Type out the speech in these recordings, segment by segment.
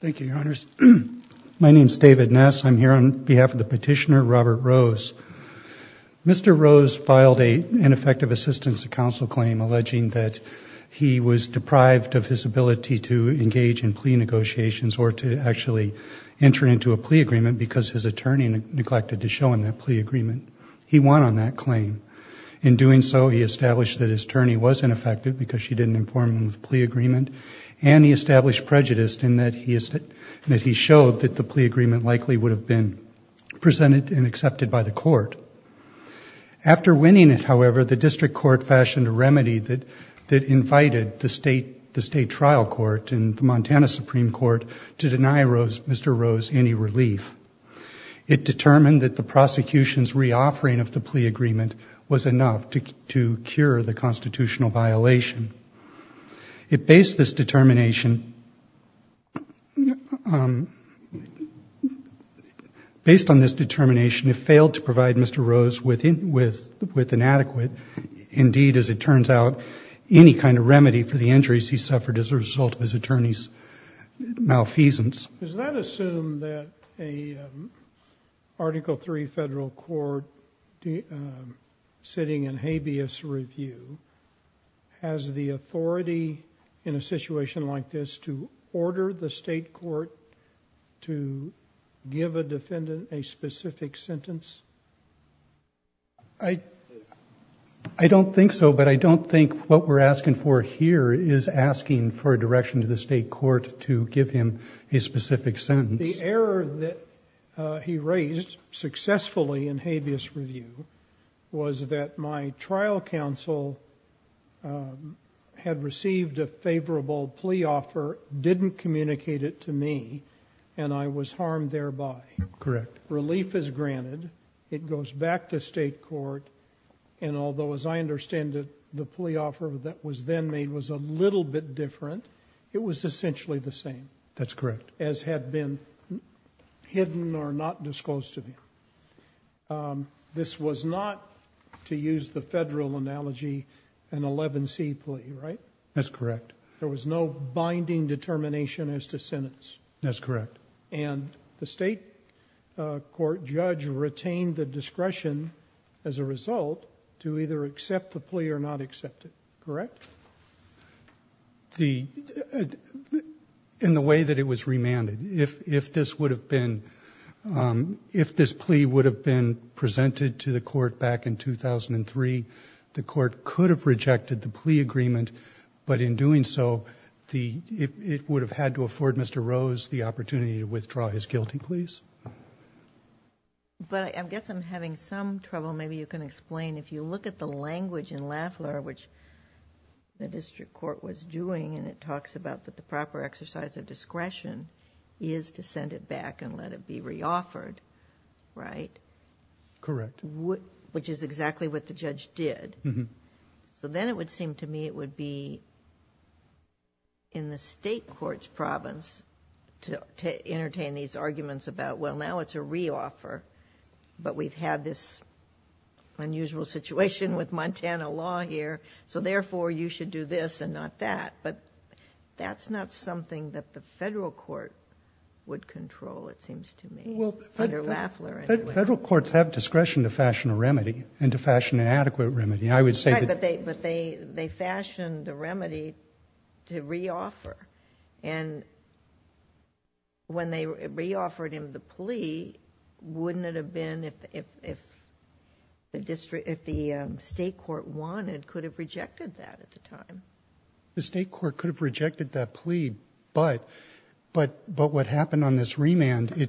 Thank you, Your Honors. My name is David Ness. I'm here on behalf of the petitioner Robert Rose. Mr. Rose filed an ineffective assistance to counsel claim alleging that he was deprived of his ability to engage in plea negotiations or to actually enter into a plea agreement because his attorney neglected to show him that plea agreement. He won on that claim. In doing so, he established that his attorney was ineffective because she didn't inform him of plea agreement and he established prejudice in that he showed that the plea agreement likely would have been presented and accepted by the court. After winning it, however, the district court fashioned a remedy that invited the state trial court and the Montana Supreme Court to deny Mr. Rose any relief. It determined that the prosecution's reoffering of the plea agreement was enough to cure the constitutional violation. It based this determination — based on this determination, it failed to provide Mr. Rose with inadequate, indeed, as it turns out, any kind of remedy for the injuries he suffered as a result of his attorney's malfeasance. Does that assume that an Article III federal court sitting in habeas review has the authority in a situation like this to order the state court to give a defendant a specific sentence? I don't think so, but I don't think what we're asking for here is asking for a direction to the state court to give him a specific sentence. The error that he raised successfully in habeas review was that my trial counsel had received a favorable plea offer, didn't communicate it to me, and I was harmed thereby. Correct. Relief is granted. It goes back to state court. And although, as I understand it, the plea was a little bit different, it was essentially the same. That's correct. As had been hidden or not disclosed to me. This was not, to use the federal analogy, an 11C plea, right? That's correct. There was no binding determination as to sentence. That's correct. And the state court judge retained the discretion, as a result, to either accept the plea or not accept it, correct? In the way that it was remanded. If this plea would have been presented to the court back in 2003, the court could have rejected the plea agreement, but in doing so, it would have had to afford Mr. Rose the opportunity to withdraw his guilty pleas. But I guess I'm having some trouble. Maybe you can explain. If you look at the language in Lafleur, which the district court was doing, and it talks about that the proper exercise of discretion is to send it back and let it be re-offered, right? Correct. Which is exactly what the judge did. So then it would seem to me it would be in the state court's province to entertain these arguments about, well, now it's a re-offer, but we've had this unusual situation with Montana law here, so therefore you should do this and not that. But that's not something that the federal court would control, it seems to me, under Lafleur. Federal courts have discretion to fashion a remedy and to fashion an adequate remedy. I would say that... Right, but they fashioned a remedy to re-offer. And when they re-offered him the plea, wouldn't it have been, if the state court wanted, could have rejected that at the time? The state court could have rejected that plea, but what happened on this remand,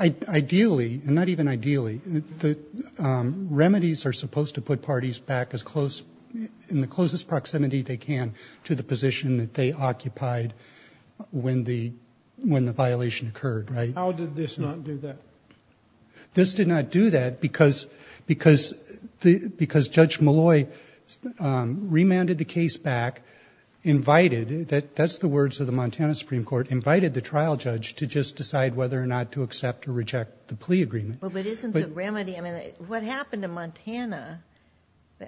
ideally and not even ideally, the remedies are supposed to put parties back as close, in the closest proximity they can, to the position that they occupied when the violation occurred, right? How did this not do that? This did not do that because Judge Malloy remanded the case back, invited, that's the words of the Montana Supreme Court, invited the trial judge to just decide whether or not to accept or reject the plea agreement. But isn't the remedy, I mean, what happened to Montana,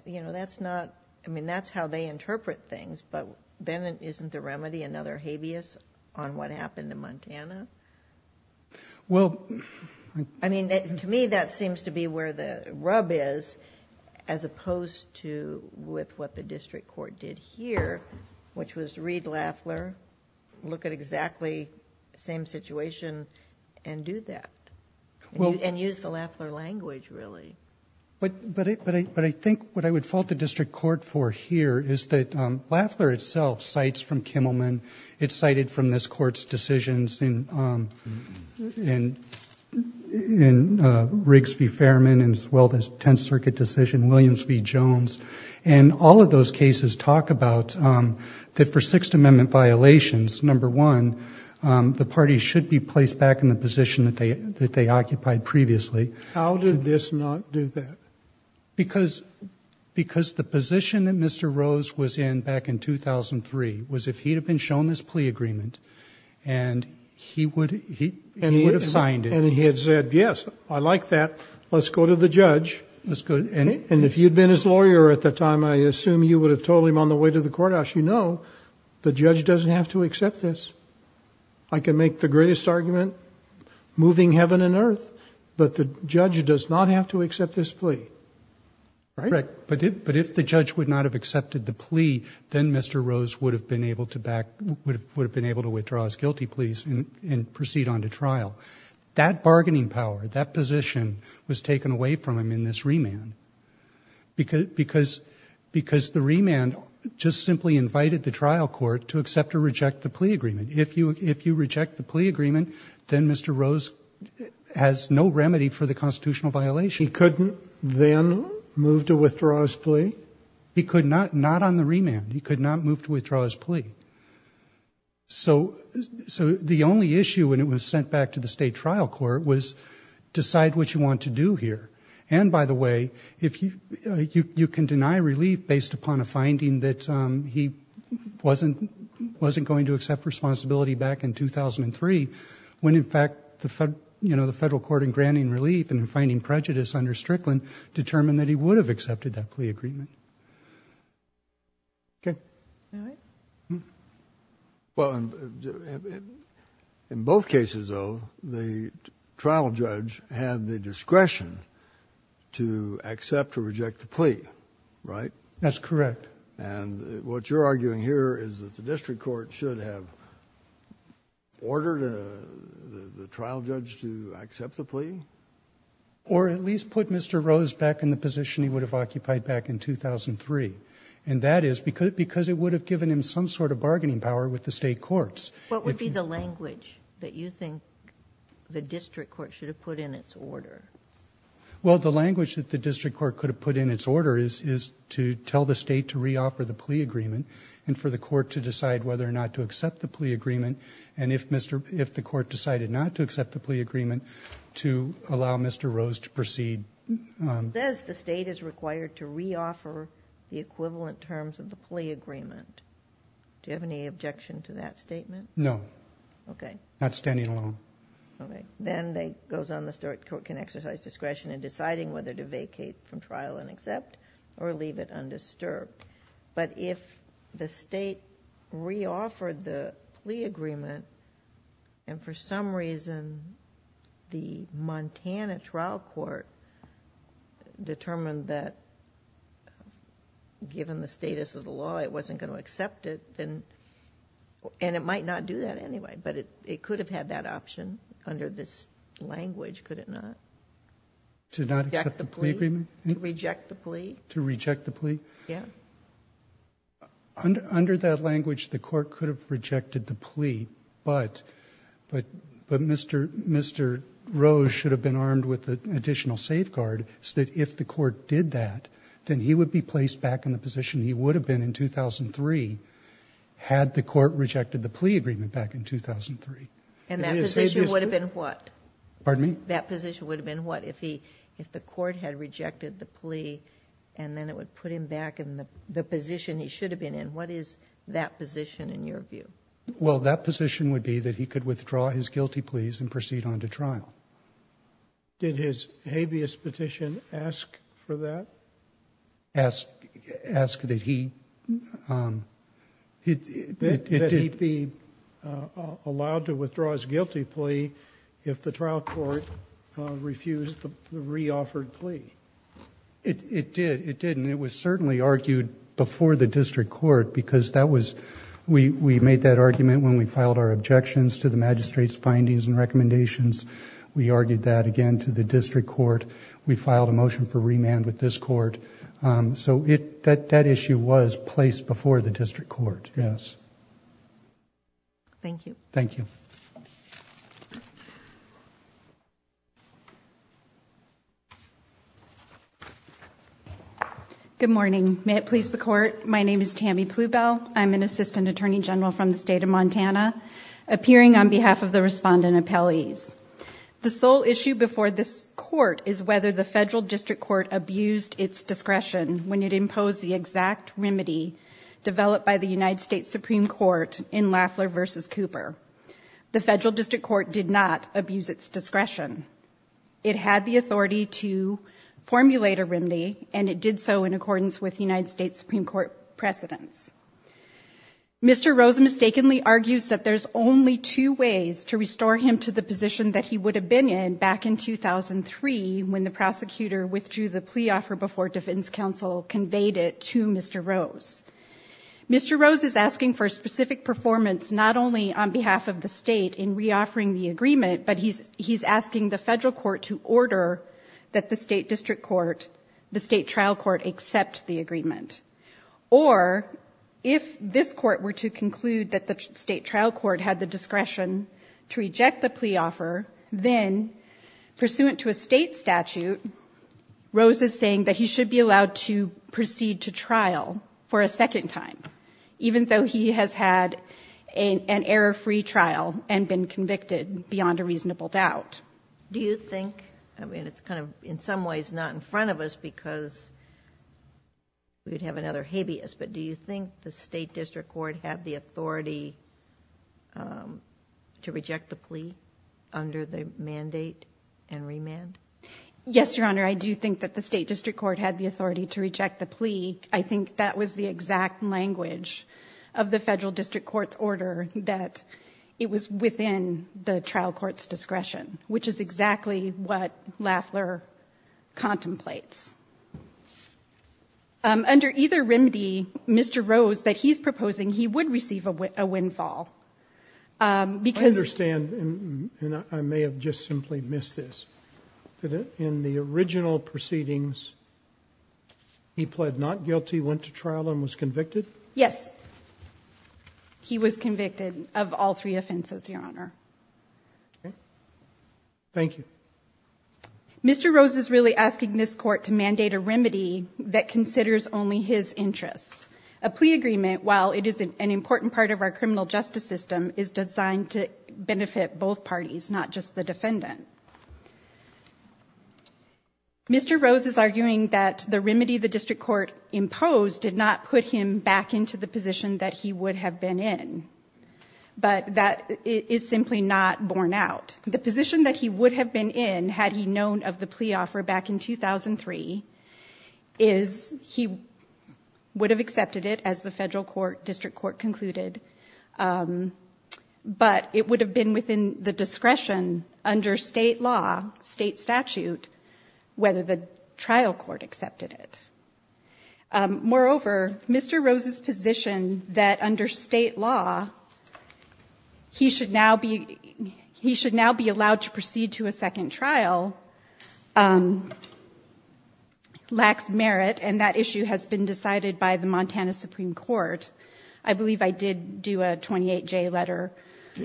you know, that's not, I mean, that's how they interpret things, but then isn't the remedy another habeas on what the district court did here, which was read Lafler, look at exactly the same situation and do that, and use the Lafler language, really? But I think what I would fault the district court for here is that Lafler itself cites from Kimmelman, it's cited from this Court's decisions, and, you know, I don't know if you've heard of it, but it's cited in Riggs v. Fairman, as well as 10th Circuit decision, Williams v. Jones, and all of those cases talk about that for Sixth Amendment violations, number one, the parties should be placed back in the position that they occupied previously. How did this not do that? Because the position that Mr. Rose was in back in 2003 was if he had been shown his plea agreement, and he would have signed it, and he had said, yes, I like that, let's go to the judge, and if you'd been his lawyer at the time, I assume you would have told him on the way to the courthouse, you know, the judge doesn't have to accept this. I can make the greatest argument, moving heaven and earth, but the judge does not have to accept this plea, right? But if the judge would not have accepted the plea, then Mr. Rose would have been able to withdraw his guilty pleas and proceed on to trial. That bargaining power, that position was taken away from him in this remand, because the remand just simply invited the trial court to accept or reject the plea agreement. If you reject the plea agreement, then Mr. Rose has no remedy for the constitutional violation. He couldn't then move to withdraw his plea? He could not, not on the remand. He could not move to withdraw his plea. So the only issue when it was sent back to the state trial court was decide what you want to do here. And by the way, you can deny relief based upon a finding that he wasn't going to accept responsibility back in 2003, when in fact the federal court in granting relief and finding prejudice under Strickland determined that he would have accepted that plea agreement. Okay. Well, in both cases, though, the trial judge had the discretion to accept or reject the plea, right? That's correct. And what you're arguing here is that the district court should have ordered the trial judge to accept the plea? Or at least put Mr. Rose back in the position he would have occupied back in 2003. And that is because it would have given him some sort of bargaining power with the state courts. What would be the language that you think the district court should have put in its order? Well, the language that the district court could have put in its order is to tell the state to reoffer the plea agreement and for the court to decide whether or not to accept the plea agreement. And if the court decided not to accept the plea agreement, to allow Mr. Rose to proceed. It says the state is required to reoffer the equivalent terms of the plea agreement. Do you have any objection to that statement? No. Okay. Not standing alone. Okay. Then it goes on, the district court can exercise discretion in deciding whether to vacate from trial and accept or leave it undisturbed. But if the state reoffered the plea agreement and for some reason the Montana trial court determined that given the status of the law it wasn't going to accept it. And it might not do that anyway, but it could have had that option under this language, could it not? To not accept the plea agreement? To reject the plea? To reject the plea? Yeah. Under that language the court could have rejected the plea, but Mr. Rose should have been armed with an additional safeguard so that if the court did that, then he would be placed back in the position he would have been in 2003 had the court rejected the plea agreement back in 2003. And that position would have been what? Pardon me? That position would have been what? If the court had rejected the plea and then it would put him back in the position he should have been in, what is that position in your view? Well, that position would be that he could withdraw his guilty pleas and proceed on to trial. Did his habeas petition ask for that? Ask that he be allowed to withdraw his guilty plea if the trial court refused the re-offered plea? It did. It did. And it was certainly argued before the district court because that was... we made that argument when we filed our objections to the magistrate's findings and recommendations. We argued that again to the district court. We filed a motion for remand with this court. So that issue was placed before the district court, yes. Thank you. Thank you. Good morning. May it please the court. My name is Tammy Plubel. I'm an assistant attorney general from the state of Montana, appearing on behalf of the respondent appellees. The sole issue before this court is whether the federal district court abused its discretion when it imposed the exact remedy developed by the United States Supreme Court in Lafler v. Cooper. The federal district court did not abuse its discretion. It had the authority to formulate a remedy, and it did so in accordance with United States Supreme Court precedents. Mr. Rose mistakenly argues that there's only two ways to restore him to the position that he would have been in back in 2003, when the prosecutor withdrew the plea offer before defense counsel conveyed it to Mr. Rose. Mr. Rose is asking for specific performance, not only on behalf of the state in re-offering the agreement, but he's asking the federal court to order that the state district court, the state trial court, accept the agreement, or if this court were to conclude that the state trial court had the discretion to reject the plea offer, then pursuant to a state statute, Rose is saying that he should be allowed to proceed to trial for a second time, even though he has had an error-free trial and been convicted beyond a reasonable doubt. Do you think, I mean, it's kind of in some ways not in front of us because we would have another habeas, but do you think the state district court had the authority to reject the plea under the mandate and remand? Yes, Your Honor. I do think that the state district court had the authority to reject the plea. I think that was the exact language of the federal district court's order that it was within the trial court's discretion, which is exactly what Lafler contemplates. Under either remedy, Mr. Rose, that he's proposing, he would receive a windfall. I understand, and I may have just simply missed this, that in the original proceedings, he pled not guilty, went to trial and was convicted? Yes. He was convicted of all three offenses, Your Honor. Thank you. Mr. Rose is really asking this court to mandate a remedy that considers only his interests. A plea agreement, while it is an important part of our criminal justice system, is designed to benefit both parties, not just the defendant. Mr. Rose is arguing that the remedy the district court imposed did not put him back into the position that he would have been in, but that is simply not borne out. The position that he would have been in, had he known of the plea offer back in 2003, is he would have accepted it as the federal court district court concluded, but it would have been within the discretion under state law, state statute, whether the trial court accepted it. Moreover, Mr. Rose's position that under state law, he should now be, he should now be allowed to proceed to a second trial, lacks merit. And that issue has been decided by the Montana Supreme Court. I believe I did do a 28 J letter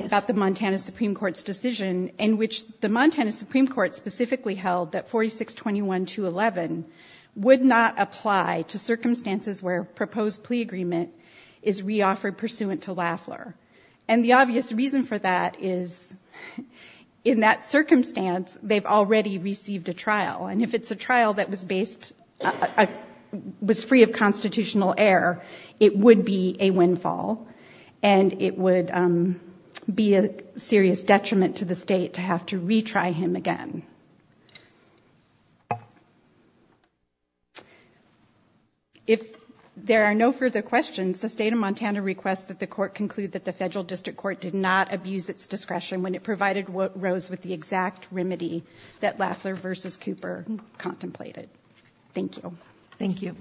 about the Montana Supreme Court's decision in which the Montana Supreme Court specifically held that 4621 to 11 would not apply to circumstances where proposed plea agreement is reoffered pursuant to Lafler. And the obvious reason for that is in that circumstance, they've already received a trial. And if it's a trial that was based, was free of constitutional air, it would be a windfall and it would be a serious detriment to the state to have to retry him again. If there are no further questions, the state of Montana requests that the court conclude that the federal district court did not abuse its discretion when it provided what rose with the exact remedy that Lafler versus Cooper contemplated. Thank you. Thank you.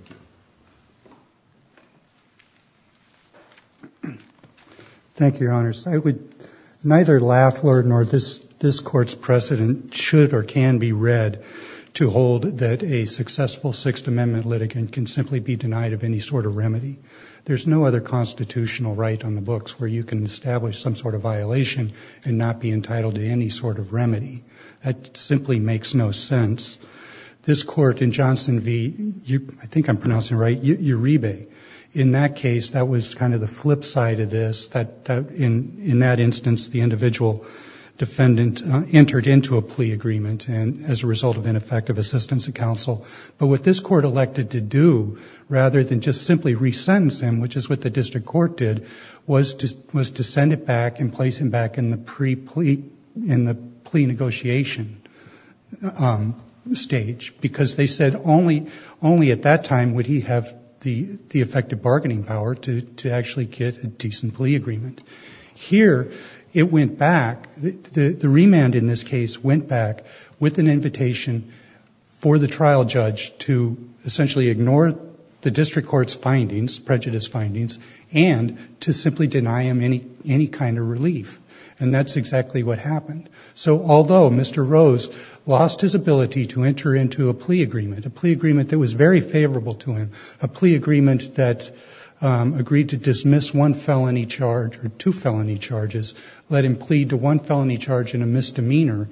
Thank you, your honors. I would neither Lafler nor this, this court's precedent should or can be read to hold that a successful sixth amendment litigant can simply be denied of any sort of remedy. There's no other constitutional right on the books where you can establish some sort of violation and not be entitled to any sort of remedy. That simply makes no sense. This court in Johnson V, I think I'm pronouncing it right, your rebate. In that case, that was kind of the flip side of this, that, that in, in that instance, the individual defendant entered into a plea agreement and as a result of an effective assistance of counsel. But what this court elected to do rather than just simply resentence him, which is what the district court did, was to, was to send it back and place him back in the pre plea in the plea negotiation stage because they said only, only at that time would he have the, the effective bargaining power to, to actually get a decent plea agreement here. It went back. The remand in this case went back with an invitation for the trial judge to essentially ignore the district court's findings, prejudice findings, and to simply deny him any, any kind of relief. And that's exactly what happened. So although Mr. Rose lost his ability to enter into a plea agreement, a plea agreement that was very favorable to him, a plea agreement that agreed to dismiss one felony charge or two felony charges, let him plead to one felony charge in a misdemeanor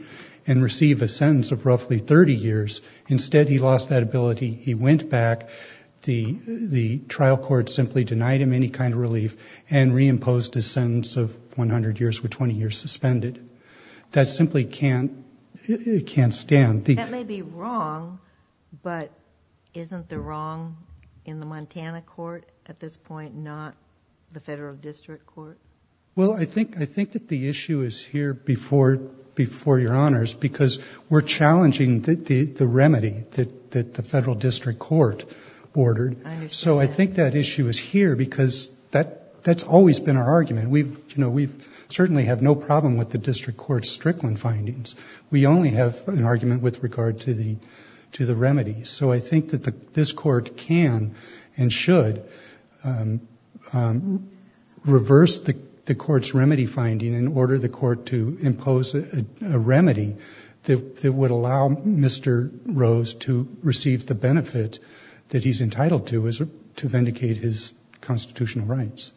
and receive a sentence of roughly 30 years. Instead, he lost that ability. He went back. The, the trial court simply denied him any kind of relief and reimposed a sentence of 100 years with 20 years suspended. That simply can't, it can't stand. That may be wrong, but isn't the wrong in the Montana court at this point, not the federal district court? Well, I think, I think that the issue is here before, before your honors, because we're challenging the, the remedy that, that the federal district court ordered. So I think that issue is here because that, that's always been our argument. We've, you know, we've certainly have no problem with the district court Strickland findings. We only have an argument with regard to the, to the remedy. So I think that the, this court can and should reverse the, the court's remedy finding in order the court to impose a remedy that, that would allow Mr. Rose to receive the benefit that he's entitled to, is to vindicate his constitutional rights.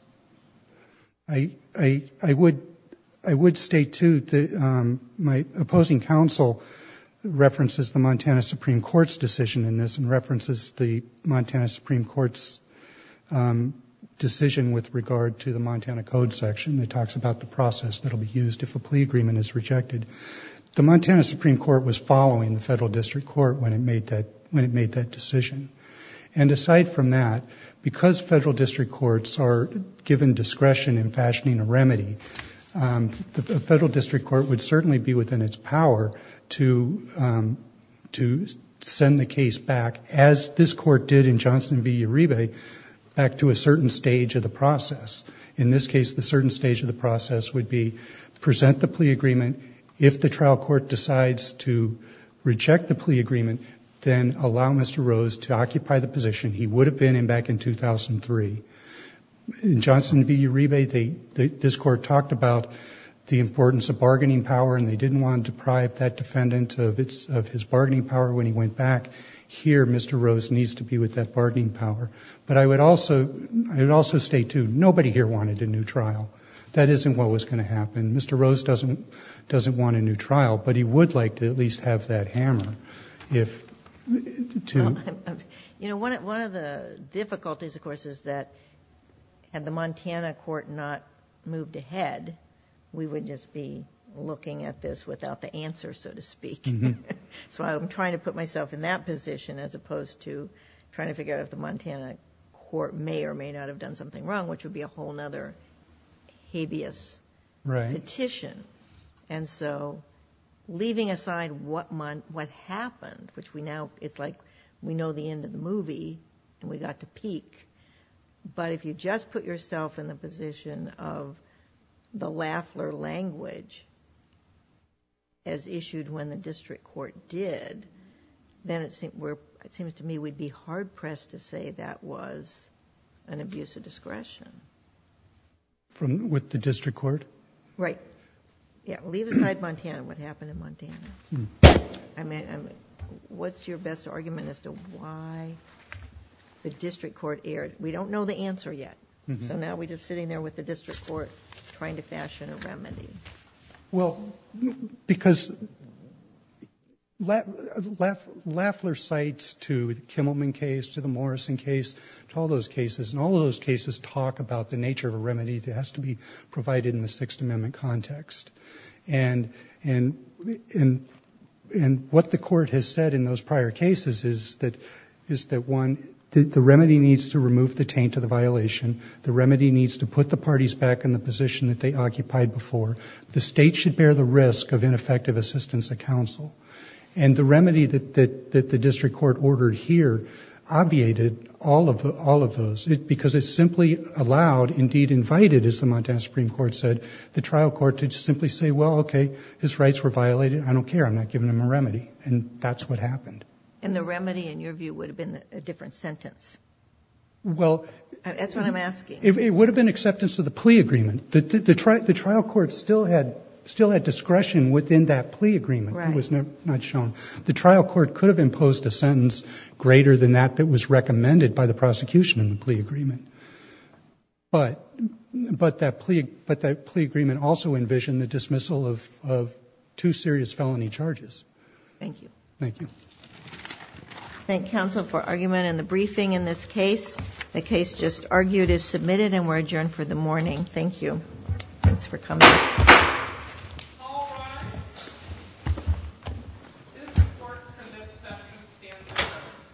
I, I, I would, I would state too that my opposing counsel references the Montana Supreme Court's decision in this and references the Montana Supreme Court's decision with regard to the Montana code section. It talks about the process that will be used if a plea agreement is rejected. The Montana Supreme Court was following the federal district court when it made that, when it made that decision. And aside from that, because federal district courts are given discretion in fashioning a remedy, the federal district court would certainly be within its power to, to send the case back as this court did in Johnson v. Uribe. Back to a certain stage of the process. In this case, the certain stage of the process would be present the plea agreement. If the trial court decides to reject the plea agreement, then allow Mr. Rose to occupy the position he would have been in back in 2003. In Johnson v. Uribe, they, this court talked about the importance of bargaining power and they didn't want to deprive that defendant of its, of his bargaining power when he went back here, Mr. Rose needs to be with that bargaining power. But I would also, I would also state too, nobody here wanted a new trial. That isn't what was going to happen. Mr. Rose doesn't, doesn't want a new trial, but he would like to at least have that hammer if, to. You know, one of the difficulties of course is that had the Montana court not moved ahead, we would just be looking at this without the answer, so to speak. So I'm trying to put myself in that position as opposed to trying to figure out if the Montana court may or may not have done something wrong, which would be a whole nother habeas petition. Right. And so leaving aside what month, what happened, which we now it's like we know the end of the movie and we got to peak, but if you just put yourself in the position of the Lafler language as issued when the district court did, then it seems to me we'd be hard pressed to say that was an abuse of discretion. From, with the district court. Right. Yeah. Leave aside Montana. What happened in Montana? I mean, I'm, what's your best argument as to why the district court aired? We don't know the answer yet. So now we just sitting there with the district court trying to fashion a remedy. Well, because left, left Lafler sites to Kimmelman case, to the Morrison case, to all those cases and all of those cases talk about the nature of a remedy that has to be provided in the sixth amendment context. And, and, and, and what the court has said in those prior cases is that, is that one, the remedy needs to remove the taint to the violation. The remedy needs to put the parties back in the position that they occupied before. The state should bear the risk of ineffective assistance at council. And the remedy that, that, that the district court ordered here obviated all of the, all of those, because it's simply allowed indeed invited as the Montana Supreme court said, the trial court to just simply say, well, okay, his rights were violated. I don't care. I'm not giving them a remedy. And that's what happened. And the remedy in your view would have been a different sentence. Well, that's what I'm asking. It would have been acceptance of the plea agreement. The, the trial court still had, still had discretion within that plea agreement. It was not shown. The trial court could have imposed a sentence greater than that that was recommended by the prosecution in the plea agreement. But, but that plea, but that plea agreement also envisioned the dismissal of, of two serious felony charges. Thank you. Thank you. Thank counsel for argument in the briefing. In this case, the case just argued is submitted and we're adjourned for the morning. Thank you. Thanks for coming.